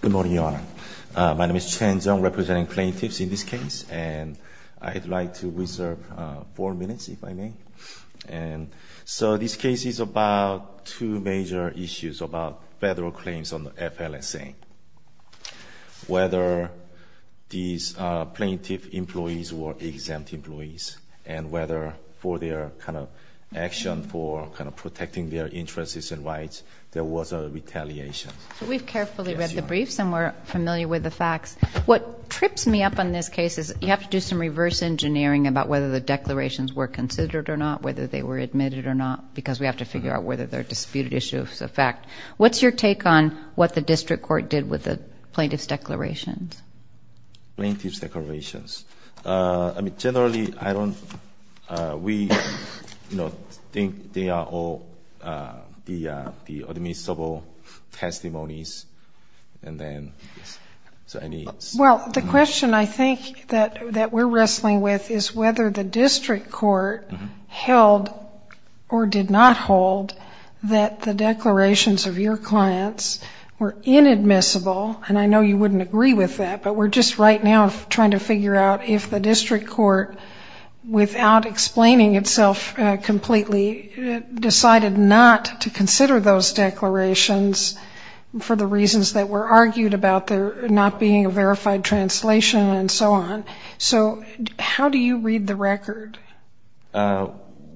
Good morning, Your Honor. My name is Chen Jeong, representing plaintiffs in this case, and I'd like to reserve four minutes, if I may. And so this case is about two major issues about federal claims on the FLSA, whether these plaintiff employees were exempt employees, and whether for their kind of action for kind of protecting their interests and rights, there was a retaliation. So we've carefully read the briefs, and we're familiar with the facts. What trips me up on this case is you have to do some reverse engineering about whether the declarations were considered or not, whether they were admitted or not, because we have to figure out whether they're disputed issues of fact. What's your take on what the district court did with the plaintiff's declarations? Plaintiff's declarations. I mean, generally, I don't we, you know, think they are all the admissible testimonies, and then so any... Well, the question I think that we're wrestling with is whether the district court held or did not hold that the declarations of your clients were inadmissible, and I know you wouldn't agree with that, but we're just right now trying to figure out if the district court, without explaining itself completely, decided not to consider those declarations for the reasons that were argued about there not being a verified translation and so on.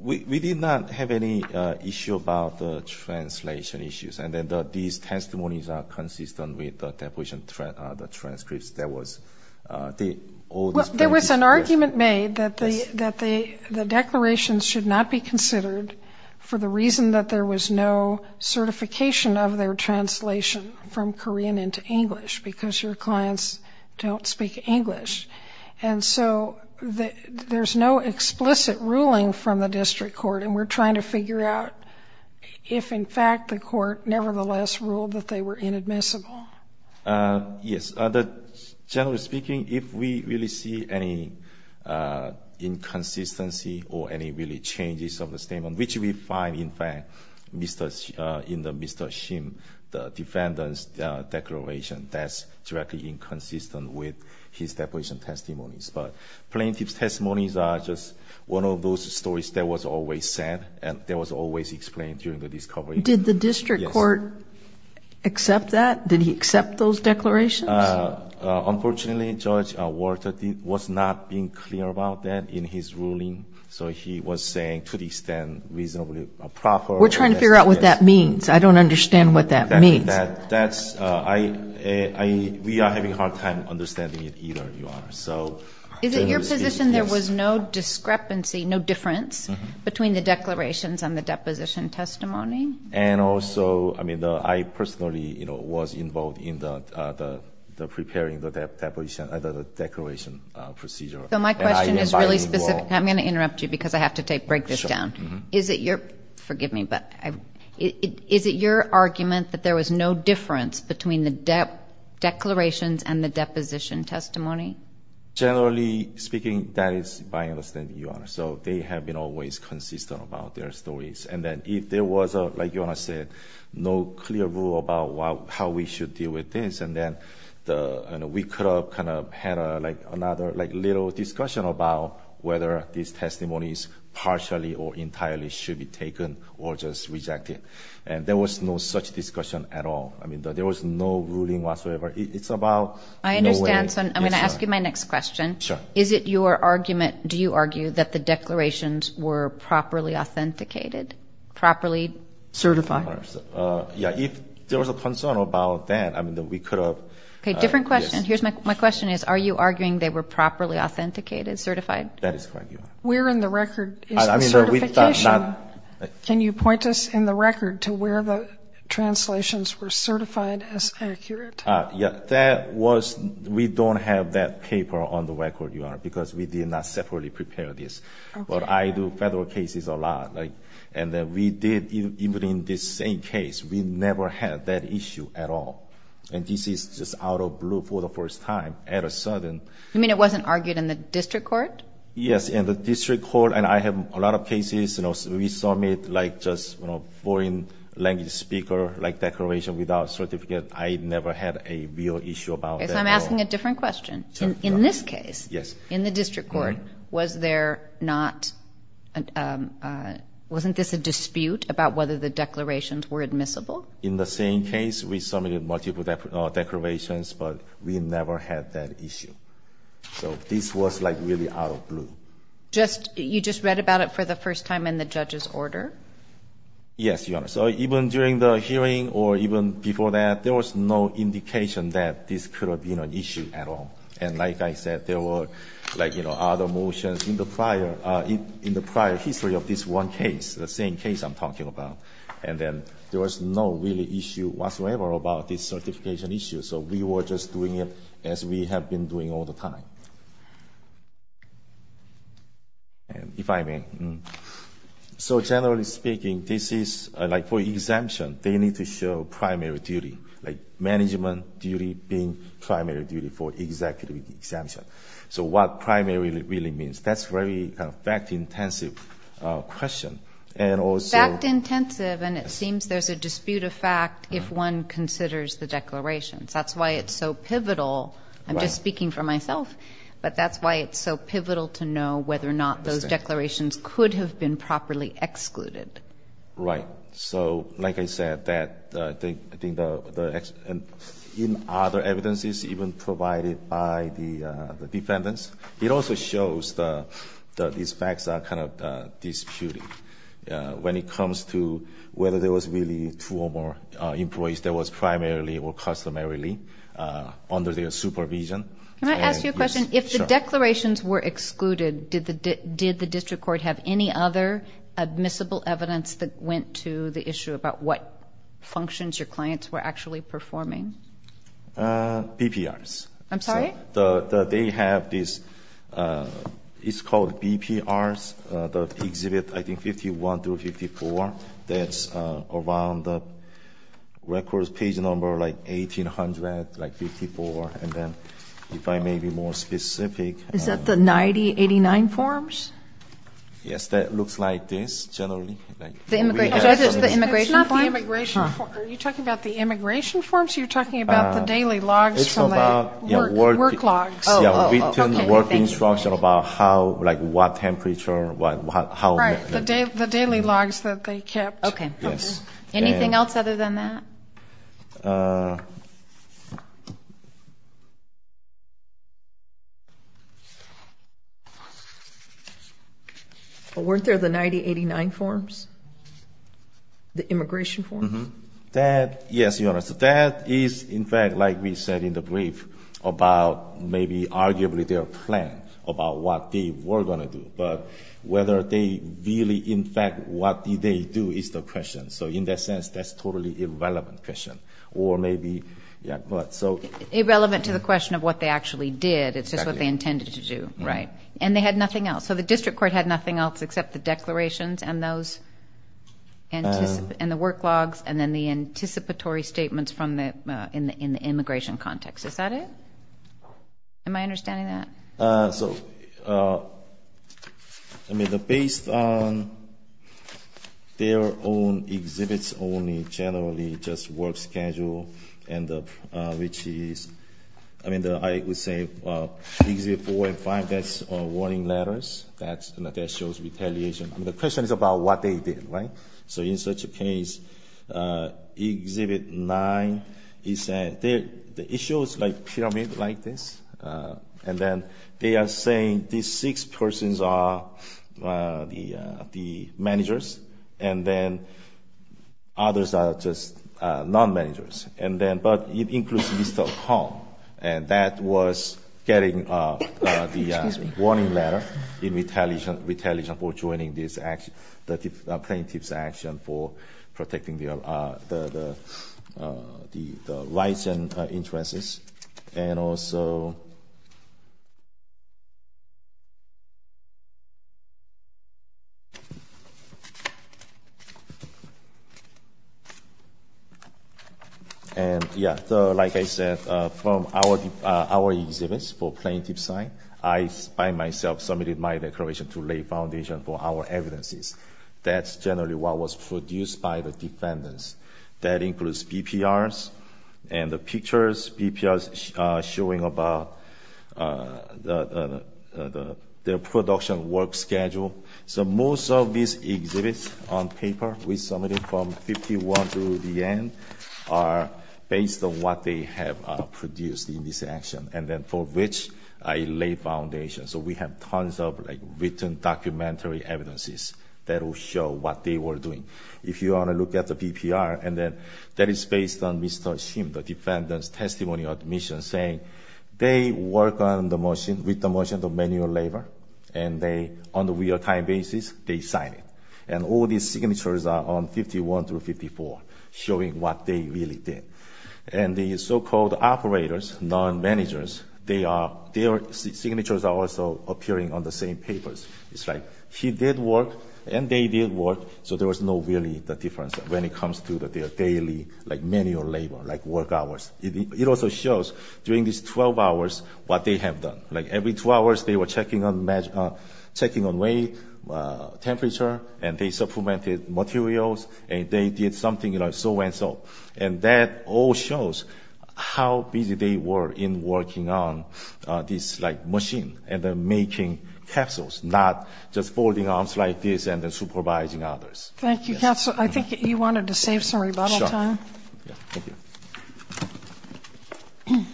We did not have any issue about the translation issues, and these testimonies are consistent with the deposition transcripts that was... Well, there was an argument made that the declarations should not be considered for the reason that there was no certification of their translation from Korean into English, because your clients don't speak English. And so there's no explicit ruling from the district court, and we're trying to figure out if, in fact, the court nevertheless ruled that they were inadmissible. Yes. Generally speaking, if we really see any inconsistency or any really changes of the statement, which we find, in fact, in the Mr. Shim, the defendant's declaration, that's directly inconsistent with his deposition testimonies. But plaintiff's testimonies are just one of those stories that was always said, and that was always explained during the discovery. Did the district court accept that? Did he accept those declarations? Unfortunately, Judge Walter was not being clear about that in his ruling, so he was saying to the extent reasonably proper... We're trying to figure out what that means. I don't understand what that means. We are having a hard time understanding it either, Your Honor. Is it your position there was no discrepancy, no difference between the declarations and the deposition testimony? And also, I mean, I personally, you know, was involved in the preparing the declaration procedure. So my question is really specific. I'm going to interrupt you because I have to break this down. Sure. Forgive me, but is it your argument that there was no difference between the declarations and the deposition testimony? Generally speaking, that is my understanding, Your Honor. So they have been always consistent about their stories. And then if there was, like Your Honor said, no clear rule about how we should deal with this, and then we could have kind of had another little discussion about whether these testimonies partially or entirely should be taken or just rejected. And there was no such discussion at all. I mean, there was no ruling whatsoever. It's about... I understand. So I'm going to ask you my next question. Sure. Is it your argument, do you argue, that the declarations were properly authenticated, properly certified? Yeah, if there was a concern about that, I mean, we could have... Okay, different question. My question is, are you arguing they were properly authenticated, certified? That is correct, Your Honor. Where in the record is the certification? Can you point us in the record to where the translations were certified as accurate? That was, we don't have that paper on the record, Your Honor, because we did not separately prepare this. But I do federal cases a lot. And we did, even in this same case, we never had that issue at all. And this is just out of the blue for the first time, all of a sudden. You mean it wasn't argued in the district court? Yes, in the district court. And I have a lot of cases, you know, we submit, like, just, you know, foreign language speaker, like, declaration without certificate. I never had a real issue about that at all. Okay, so I'm asking a different question. In this case, in the district court, was there not... wasn't this a dispute about whether the declarations were admissible? In the same case, we submitted multiple declarations, but we never had that issue. So this was, like, really out of the blue. Just, you just read about it for the first time in the judge's order? Yes, Your Honor. So even during the hearing or even before that, there was no indication that this could have been an issue at all. And like I said, there were, like, you know, other motions in the prior, in the prior history of this one case, the same case I'm talking about. And then there was no real issue whatsoever about this certification issue. So we were just doing it as we have been doing all the time. If I may. So generally speaking, this is, like, for exemption, they need to show primary duty, like management duty being primary duty for executive exemption. So what primary really means, that's very fact-intensive question. Fact-intensive, and it seems there's a dispute of fact if one considers the declarations. That's why it's so pivotal. I'm just speaking for myself, but that's why it's so pivotal to know whether or not those declarations could have been properly excluded. Right. So, like I said, that, I think, in other evidences even provided by the defendants, it also shows that these facts are kind of disputed when it comes to whether there was really two or more employees that was primarily or customarily under their supervision. Can I ask you a question? Sure. If the declarations were excluded, did the district court have any other admissible evidence that went to the issue about what functions your clients were actually performing? BPRs. I'm sorry? They have this, it's called BPRs, the exhibit, I think, 51 through 54. That's around the records page number, like, 1,800, like, 54. And then if I may be more specific. Is that the 9089 forms? Yes, that looks like this, generally. Is that just the immigration form? It's not the immigration form. Are you talking about the immigration forms, or you're talking about the daily logs? Work logs. Yeah, written work instruction about how, like, what temperature, what, how. Right, the daily logs that they kept. Okay. Yes. Anything else other than that? Weren't there the 9089 forms, the immigration forms? Yes, Your Honor. So that is, in fact, like we said in the brief about maybe arguably their plan about what they were going to do. But whether they really, in fact, what did they do is the question. So in that sense, that's totally irrelevant question. Or maybe, yeah, but so. Irrelevant to the question of what they actually did. It's just what they intended to do. Right. And they had nothing else. So the district court had nothing else except the declarations and those, and the work logs, and then the anticipatory statements from the, in the immigration context. Is that it? Am I understanding that? So, I mean, based on their own exhibits only, generally, just work schedule, which is, I mean, I would say exhibit four and five, that's warning letters. That shows retaliation. The question is about what they did. Right? So in such a case, exhibit nine, the issue is like pyramid like this. And then they are saying these six persons are the managers, and then others are just non-managers. And then, but it includes Mr. Hong. And that was getting the warning letter in retaliation for joining this plaintiff's action for protecting the rights and interests. And also, and yeah, like I said, from our exhibits for plaintiff's side, I, by myself, submitted my declaration to lay foundation for our evidences. That's generally what was produced by the defendants. That includes BPRs and the pictures BPRs showing about their production work schedule. So most of these exhibits on paper we submitted from 51 through the end are based on what they have produced in this action. And then for which I lay foundation. So we have tons of like written documentary evidences that will show what they were doing. If you want to look at the BPR, and then that is based on Mr. Shim, the defendant's testimony or admission saying they work on the machine, with the machine, the manual labor. And they, on the real-time basis, they sign it. And all these signatures are on 51 through 54 showing what they really did. And the so-called operators, non-managers, they are, their signatures are also appearing on the same papers. It's like he did work, and they did work, so there was no really difference when it comes to their daily manual labor, like work hours. It also shows during these 12 hours what they have done. Like every two hours they were checking on weight, temperature, and they supplemented materials, and they did something, you know, so-and-so. And that all shows how busy they were in working on this, like, machine, and then making capsules, not just folding arms like this and then supervising others. Thank you. Counsel, I think you wanted to save some rebuttal time. Sure. Thank you.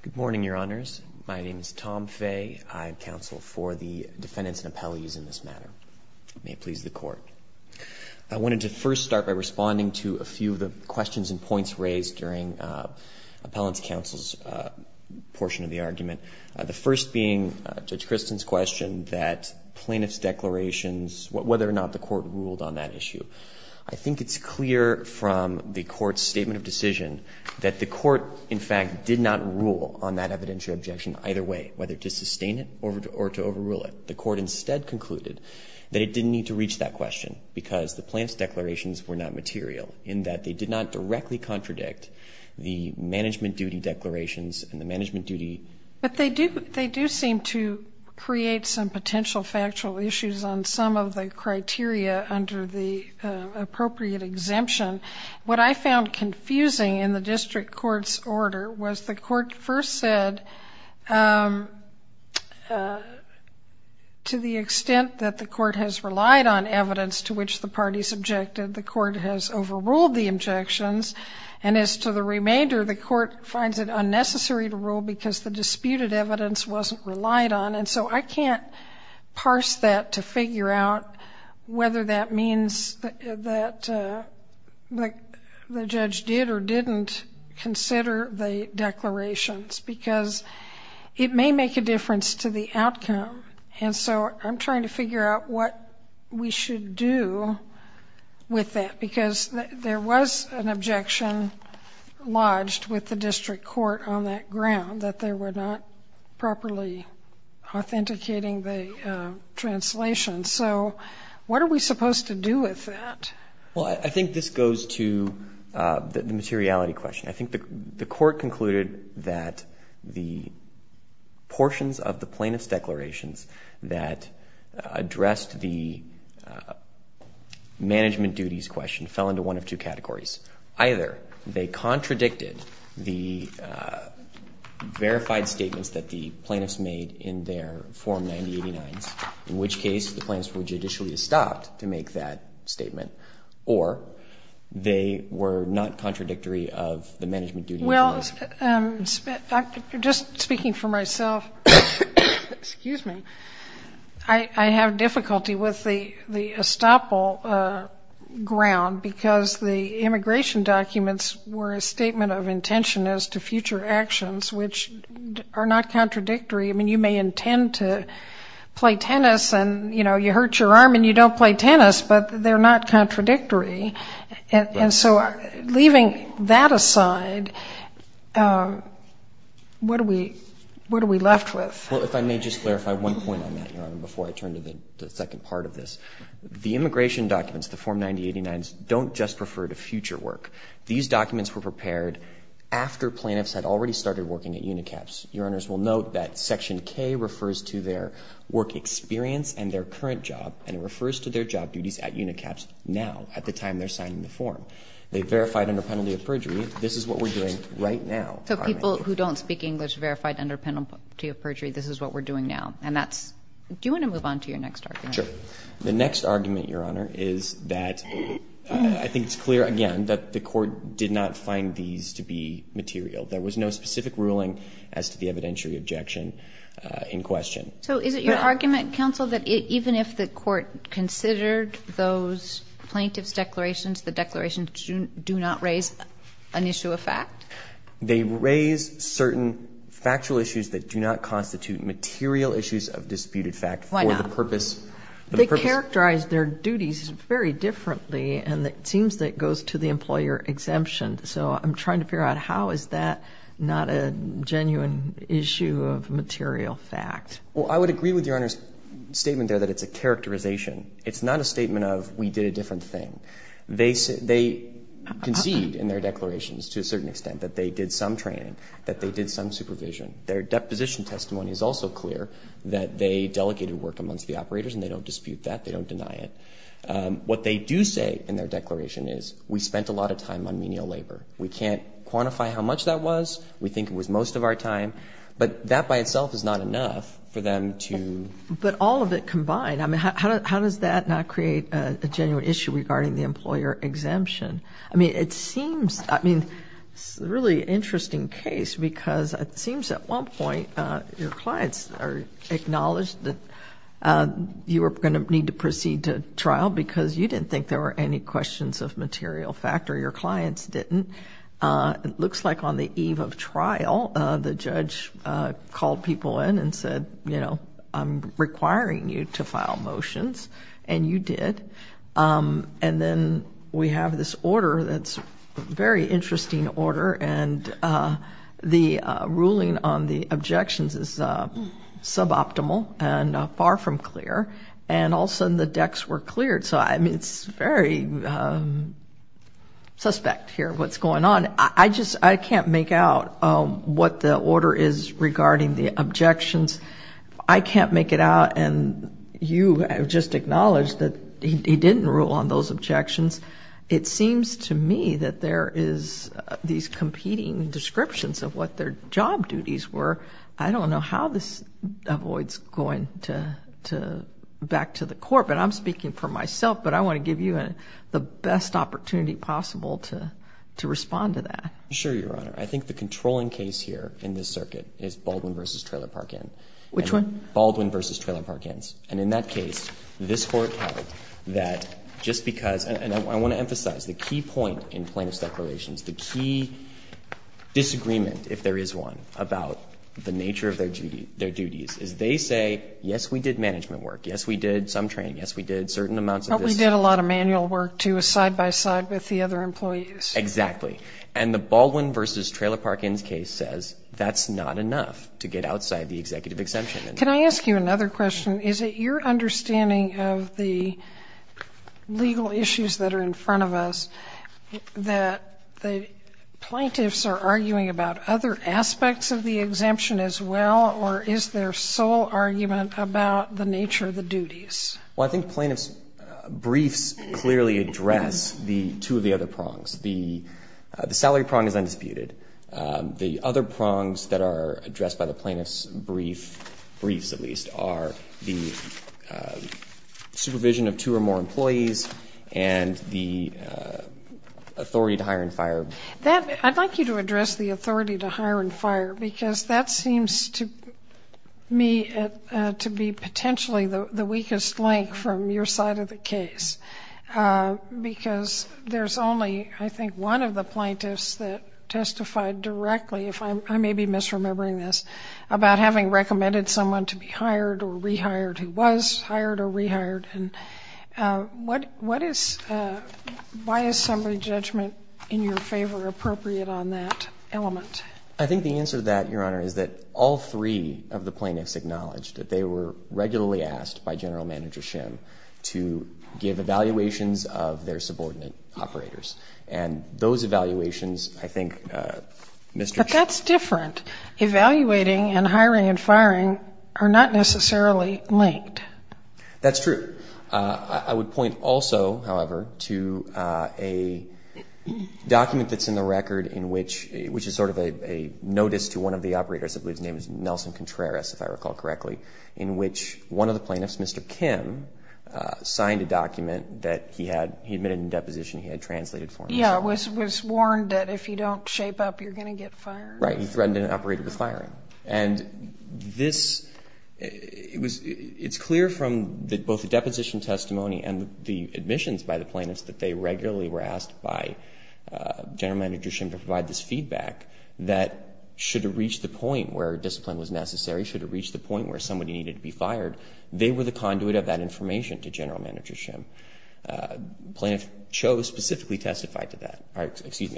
Good morning, Your Honors. My name is Tom Fay. I counsel for the defendants and appellees in this matter. May it please the Court. I wanted to first start by responding to a few of the questions and points raised during appellant's counsel's portion of the argument. The first being Judge Christen's question that plaintiff's declarations, whether or not the Court ruled on that issue. I think it's clear from the Court's statement of decision that the Court, in fact, did not rule on that evidentiary objection either way, whether to sustain it or to overrule it. The Court instead concluded that it didn't need to reach that question because the plaintiff's declarations were not material, in that they did not directly contradict the management duty declarations and the management duty. But they do seem to create some potential factual issues on some of the criteria under the appropriate exemption. What I found confusing in the district court's order was the court first said, to the extent that the court has relied on evidence to which the parties objected, the court has overruled the objections, and as to the remainder, the court finds it unnecessary to rule because the disputed evidence wasn't relied on. And so I can't parse that to figure out whether that means that the judge did or didn't consider the declarations, because it may make a difference to the outcome. And so I'm trying to figure out what we should do with that, because there was an objection lodged with the district court on that ground, that they were not properly authenticating the translation. So what are we supposed to do with that? Well, I think this goes to the materiality question. I think the court concluded that the portions of the plaintiff's declarations that addressed the management duties question fell into one of two categories. Either they contradicted the verified statements that the plaintiffs made in their Form 9089s, in which case the plaintiffs were judicially stopped to make that statement, or they were not contradictory of the management duties. Well, just speaking for myself, I have difficulty with the estoppel ground, because the immigration documents were a statement of intention as to future actions, which are not contradictory. I mean, you may intend to play tennis and, you know, you hurt your arm and you don't play tennis, but they're not contradictory. And so leaving that aside, what are we left with? Well, if I may just clarify one point on that, Your Honor, before I turn to the second part of this. The immigration documents, the Form 9089s, don't just refer to future work. These documents were prepared after plaintiffs had already started working at UNICAPS. Your Honors will note that Section K refers to their work experience and their current experience at UNICAPS now, at the time they're signing the form. They verified under penalty of perjury. This is what we're doing right now. So people who don't speak English verified under penalty of perjury. This is what we're doing now. And that's do you want to move on to your next argument? Sure. The next argument, Your Honor, is that I think it's clear, again, that the Court did not find these to be material. There was no specific ruling as to the evidentiary objection in question. So is it your argument, Counsel, that even if the Court considered those plaintiffs' declarations, the declarations do not raise an issue of fact? They raise certain factual issues that do not constitute material issues of disputed fact for the purpose. Why not? They characterize their duties very differently, and it seems that it goes to the employer exemption. So I'm trying to figure out how is that not a genuine issue of material fact? Well, I would agree with Your Honor's statement there that it's a characterization. It's not a statement of we did a different thing. They concede in their declarations to a certain extent that they did some training, that they did some supervision. Their deposition testimony is also clear that they delegated work amongst the operators and they don't dispute that. They don't deny it. What they do say in their declaration is we spent a lot of time on menial labor. We can't quantify how much that was. We think it was most of our time. But that by itself is not enough for them to. But all of it combined, I mean, how does that not create a genuine issue regarding the employer exemption? I mean, it seems, I mean, it's a really interesting case because it seems at one point your clients are acknowledged that you are going to need to proceed to trial because you didn't think there were any questions of material fact or your clients didn't. It looks like on the eve of trial the judge called people in and said, you know, I'm requiring you to file motions and you did. And then we have this order that's a very interesting order and the ruling on the objections is suboptimal and far from clear. And all of a sudden the decks were cleared. So, I mean, it's very suspect here what's going on. I just, I can't make out what the order is regarding the objections. I can't make it out and you have just acknowledged that he didn't rule on those objections. It seems to me that there is these competing descriptions of what their job duties were. I don't know how this avoids going back to the court. But I'm speaking for myself. But I want to give you the best opportunity possible to respond to that. Sure, Your Honor. I think the controlling case here in this circuit is Baldwin v. Trailer Park Inn. Which one? Baldwin v. Trailer Park Inns. And in that case, this Court held that just because, and I want to emphasize the key point in plaintiff's declarations, the key disagreement, if there is one, about the nature of their duties is they say, yes, we did management work. Yes, we did some training. Yes, we did certain amounts of this. But we did a lot of manual work, too, side by side with the other employees. Exactly. And the Baldwin v. Trailer Park Inns case says that's not enough to get outside the executive exemption. Can I ask you another question? Is it your understanding of the legal issues that are in front of us that the plaintiffs are arguing about other aspects of the exemption as well, or is their sole argument about the nature of the duties? Well, I think plaintiff's briefs clearly address the two of the other prongs. The salary prong is undisputed. The other prongs that are addressed by the plaintiff's briefs, at least, are the supervision of two or more employees and the authority to hire and fire. I'd like you to address the authority to hire and fire, because that seems to me to be potentially the weakest link from your side of the case, because there's only, I think, one of the plaintiffs that testified directly, if I may be misremembering this, about having recommended someone to be hired or rehired who was hired or rehired. And what is why is summary judgment in your favor appropriate on that element? I think the answer to that, Your Honor, is that all three of the plaintiffs acknowledged that they were regularly asked by General Manager Schimm to give evaluations of their subordinate operators. And those evaluations, I think, Mr. Schimm. But that's different. Evaluating and hiring and firing are not necessarily linked. That's true. I would point also, however, to a document that's in the record in which, which is sort of a notice to one of the operators, I believe his name is Nelson Contreras, if I recall correctly, in which one of the plaintiffs, Mr. Schimm, signed a document that he admitted in deposition he had translated for him. Yeah. It was warned that if you don't shape up, you're going to get fired. Right. He threatened an operator with firing. And this, it was, it's clear from both the deposition testimony and the admissions by the plaintiffs that they regularly were asked by General Manager Schimm to provide this feedback that should it reach the point where discipline was necessary, should it reach the point where somebody needed to be fired, they were the conduit of that information to General Manager Schimm. Plaintiff Cho specifically testified to that. Excuse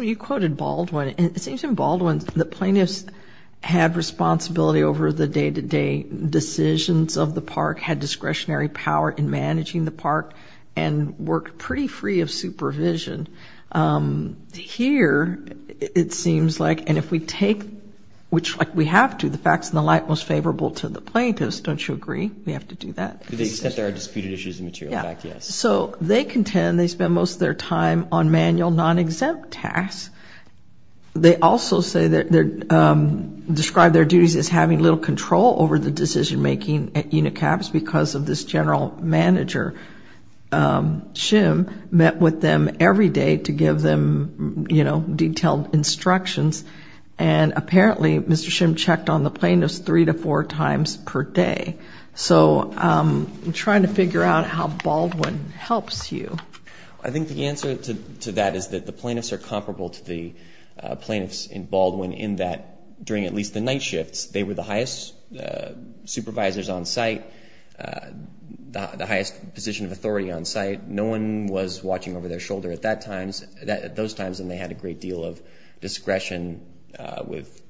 me. You quoted Baldwin. It seems in Baldwin the plaintiffs had responsibility over the day-to-day decisions of the park, had discretionary power in managing the park, and worked pretty free of supervision. Here it seems like, and if we take, which we have to, the facts in the light most favorable to the plaintiffs. Don't you agree? We have to do that. To the extent there are disputed issues in material fact, yes. So they contend they spend most of their time on manual, non-exempt tasks. They also say that they're, describe their duties as having little control over the decision-making at UNICAPS because of this General Manager Schimm met with them every day to give them, you know, detailed instructions. And apparently Mr. Schimm checked on the plaintiffs three to four times per day. So I'm trying to figure out how Baldwin helps you. I think the answer to that is that the plaintiffs are comparable to the plaintiffs in Baldwin in that during at least the night shifts they were the highest supervisors on site, the highest position of authority on site. No one was watching over their shoulder at those times, and they had a great deal of discretion with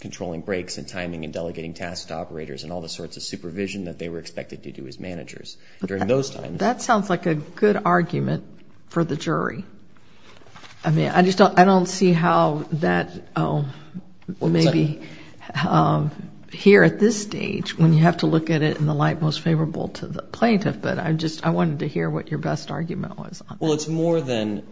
controlling breaks and timing and delegating tasks to operators and all the sorts of supervision that they were expected to do as managers during those times. That sounds like a good argument for the jury. I mean, I just don't see how that will maybe here at this stage when you have to look at it in the light most favorable to the plaintiff, but I just wanted to hear what your best argument was on that. Well, it's more than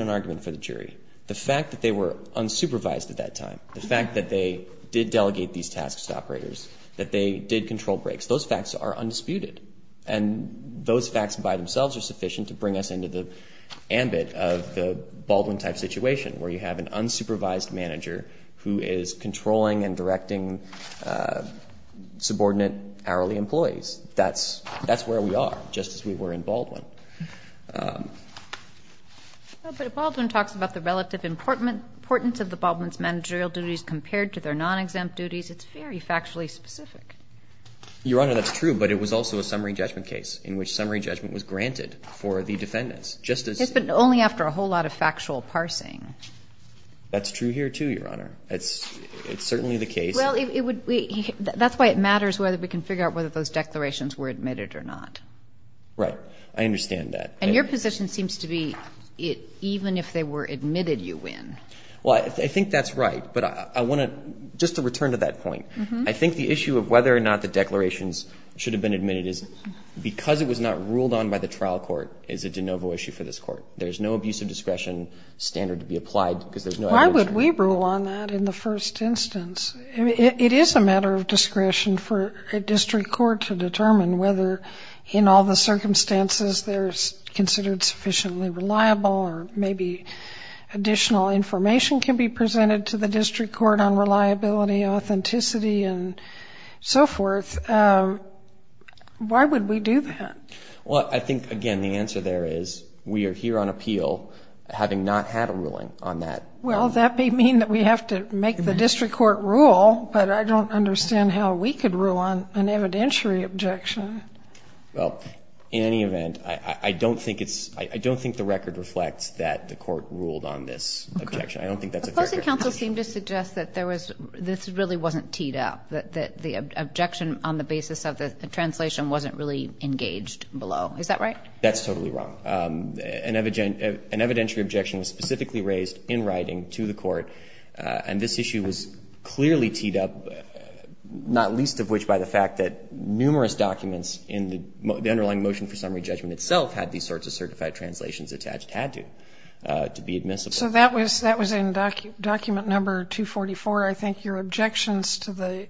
an argument for the jury. The fact that they were unsupervised at that time, the fact that they did delegate these tasks to operators, that they did control breaks, those facts are undisputed, and those facts by themselves are sufficient to bring us into the ambit of the Baldwin-type situation where you have an unsupervised manager who is controlling and directing subordinate hourly employees. That's where we are, just as we were in Baldwin. But Baldwin talks about the relative importance of the Baldwin's managerial duties compared to their non-exempt duties. It's very factually specific. Your Honor, that's true, but it was also a summary judgment case in which summary judgment was granted for the defendants. Yes, but only after a whole lot of factual parsing. That's true here, too, Your Honor. It's certainly the case. Well, that's why it matters whether we can figure out whether those declarations were admitted or not. Right. I understand that. And your position seems to be even if they were admitted, you win. Well, I think that's right, but I want to, just to return to that point, I think the issue of whether or not the declarations should have been admitted is because it was not ruled on by the trial court is a de novo issue for this Court. There is no abuse of discretion standard to be applied because there's no evidence. Why would we rule on that in the first instance? It is a matter of discretion for a district court to determine whether, in all the circumstances, they're considered sufficiently reliable or maybe additional information can be presented to the district court on reliability, authenticity, and so forth. Why would we do that? Well, I think, again, the answer there is we are here on appeal, having not had a ruling on that. Well, that may mean that we have to make the district court rule, but I don't understand how we could rule on an evidentiary objection. Well, in any event, I don't think it's – I don't think the record reflects that the Court ruled on this objection. Okay. I don't think that's a fair question. Supposing counsel seemed to suggest that there was – this really wasn't teed up, that the objection on the basis of the translation wasn't really engaged below. Is that right? That's totally wrong. An evidentiary objection was specifically raised in writing to the Court, and this issue was clearly teed up, not least of which by the fact that numerous documents in the underlying motion for summary judgment itself had these sorts of certified translations attached had to, to be admissible. So that was in document number 244. I think your objections to the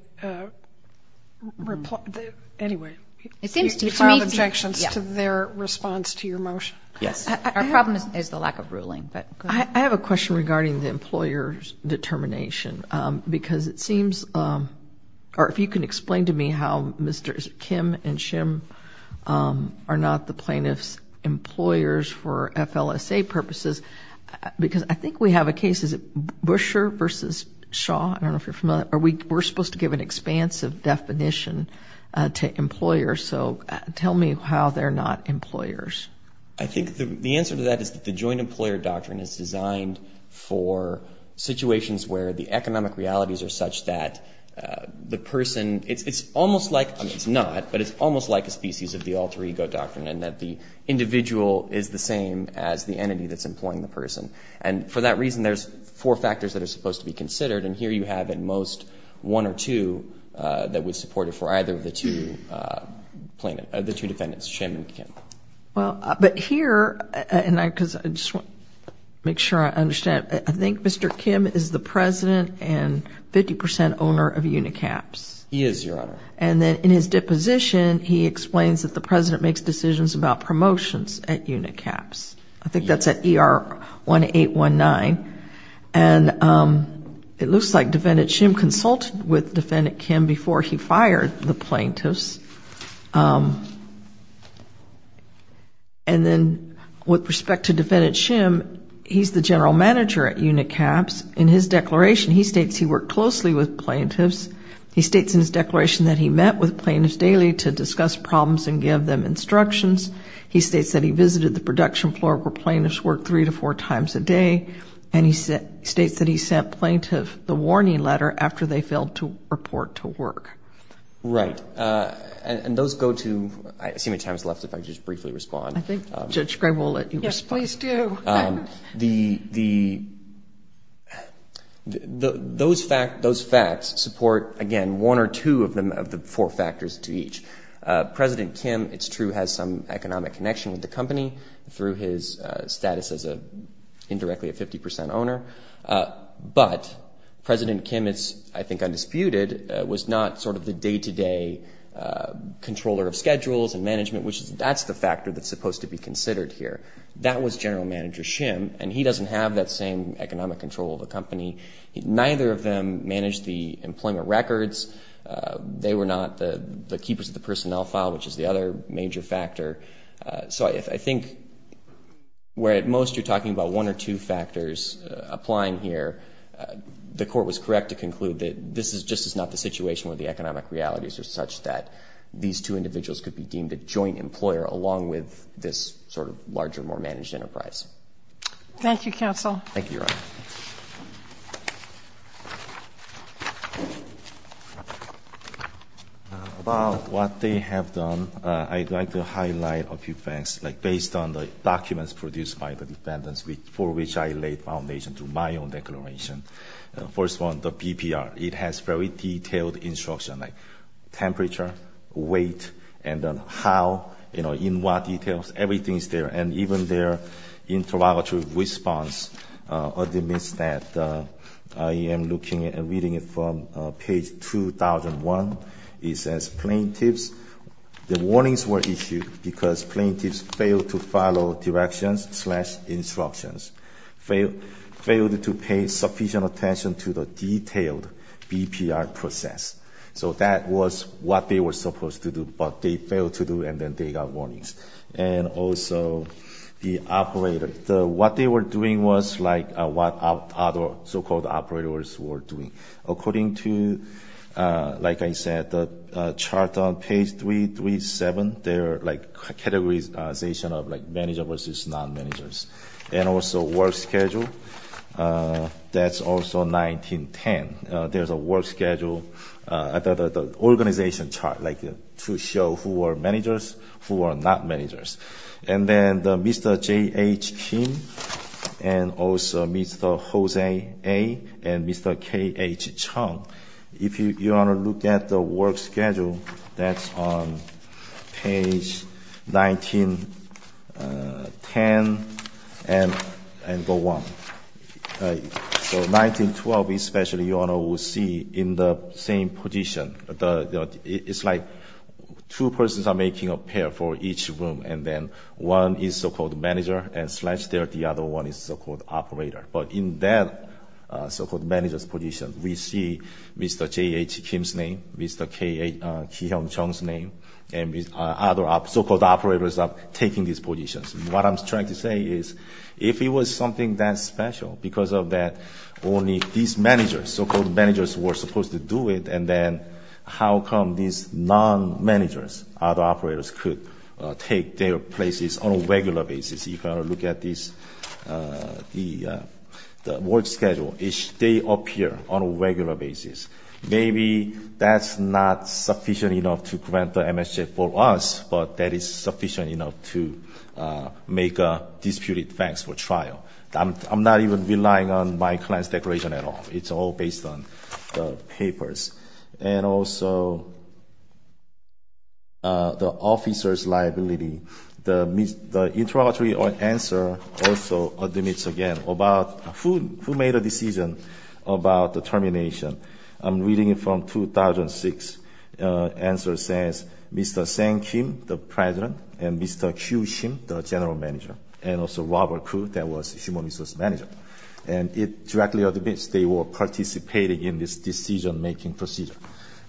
– anyway. You filed objections to their response to your motion. Our problem is the lack of ruling, but go ahead. I have a question regarding the employer's determination because it seems – or if you can explain to me how Mr. Kim and Shim are not the plaintiff's employers for FLSA purposes because I think we have a case. Is it Busher versus Shaw? I don't know if you're familiar. Are we – we're supposed to give an expansive definition to employers. So tell me how they're not employers. I think the answer to that is that the joint employer doctrine is designed for situations where the economic realities are such that the person – it's almost like – I mean, it's not, but it's almost like a species of the alter ego doctrine in that the individual is the same as the entity that's employing the person. And for that reason, there's four factors that are supposed to be considered, and here you have at most one or two that would support it for either of the two plaintiffs – the two defendants, Shim and Kim. Well, but here – and I – because I just want to make sure I understand. I think Mr. Kim is the president and 50 percent owner of Unicaps. He is, Your Honor. And then in his deposition, he explains that the president makes decisions about promotions at Unicaps. I think that's at ER 1819. And it looks like Defendant Shim consulted with Defendant Kim before he fired the plaintiffs. And then with respect to Defendant Shim, he's the general manager at Unicaps. In his declaration, he states he worked closely with plaintiffs. He states in his declaration that he met with plaintiffs daily to discuss problems and give them instructions. He states that he visited the production floor where plaintiffs worked three to four times a day. And he states that he sent plaintiffs the warning letter after they failed to report to work. Right. And those go to – I see how much time is left. If I could just briefly respond. I think Judge Gray will let you respond. Yes, please do. The – those facts support, again, one or two of the four factors to each. President Kim, it's true, has some economic connection with the company through his status as a – indirectly a 50 percent owner. But President Kim is, I think, undisputed, was not sort of the day-to-day controller of schedules and management, which is – that's the factor that's supposed to be considered here. That was General Manager Shim, and he doesn't have that same economic control of the company. Neither of them managed the employment records. They were not the keepers of the personnel file, which is the other major factor. So I think where at most you're talking about one or two factors applying here, the court was correct to conclude that this is just not the situation where the economic realities are such that these two individuals could be deemed a joint employer along with this sort of larger, more managed enterprise. Thank you, Your Honor. About what they have done, I'd like to highlight a few facts, like based on the documents produced by the defendants for which I laid foundation to my own declaration. First one, the PPR. It has very detailed instruction, like temperature, weight, and how – in what details. Everything is there. And even their interrogatory response admits that. I am looking at and reading it from page 2001. It says, plaintiffs – the warnings were issued because plaintiffs failed to follow directions slash instructions, failed to pay sufficient attention to the detailed PPR process. So that was what they were supposed to do, but they failed to do, and then they got warnings. And also the operator. What they were doing was like what other so-called operators were doing. According to, like I said, the chart on page 337, their categorization of manager versus non-managers. And also work schedule. That's also 1910. There's a work schedule. The organization chart, like to show who are managers, who are not managers. And then Mr. J.H. Kim and also Mr. Jose A. and Mr. K.H. Chung. If you want to look at the work schedule, that's on page 1910 and go on. So 1912 especially, you will see in the same position. It's like two persons are making a pair for each room, and then one is so-called manager and slash there the other one is so-called operator. But in that so-called manager's position, we see Mr. J.H. Kim's name, Mr. K.H. Chung's name, and other so-called operators are taking these positions. What I'm trying to say is if it was something that special, because of that only these managers, so-called managers, were supposed to do it, and then how come these non-managers, other operators, could take their places on a regular basis? You've got to look at the work schedule. They appear on a regular basis. Maybe that's not sufficient enough to grant the MSJ for us, but that is sufficient enough to make a disputed fax for trial. I'm not even relying on my client's declaration at all. It's all based on the papers. And also the officer's liability, the interrogatory answer also admits again about who made a decision about the termination. I'm reading it from 2006. Answer says Mr. Sang Kim, the president, and Mr. Kyu Shim, the general manager, and also Robert Koo, that was human resource manager. And it directly admits they were participating in this decision-making procedure.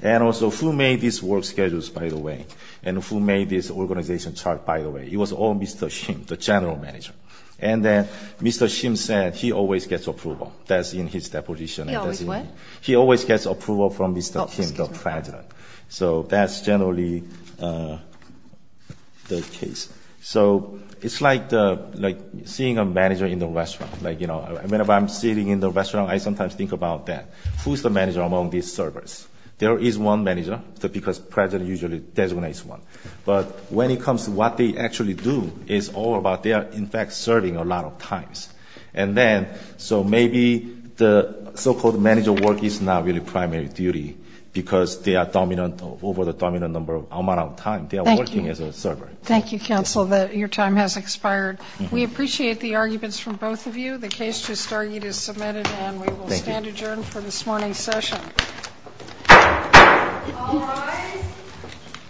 And also who made these work schedules, by the way, and who made this organization chart, by the way? It was all Mr. Shim, the general manager. And then Mr. Shim said he always gets approval. That's in his deposition. He always what? He always gets approval from Mr. Kim, the president. So that's generally the case. So it's like seeing a manager in the restaurant. Like, you know, whenever I'm sitting in the restaurant, I sometimes think about that. Who's the manager among these servers? There is one manager because president usually designates one. But when it comes to what they actually do, it's all about they are, in fact, serving a lot of times. And then so maybe the so-called manager work is not really primary duty because they are dominant over the dominant amount of time. They are working as a server. Thank you. Thank you, counsel. Your time has expired. We appreciate the arguments from both of you. The case to start is submitted. And we will stand adjourned for this morning's session. All rise.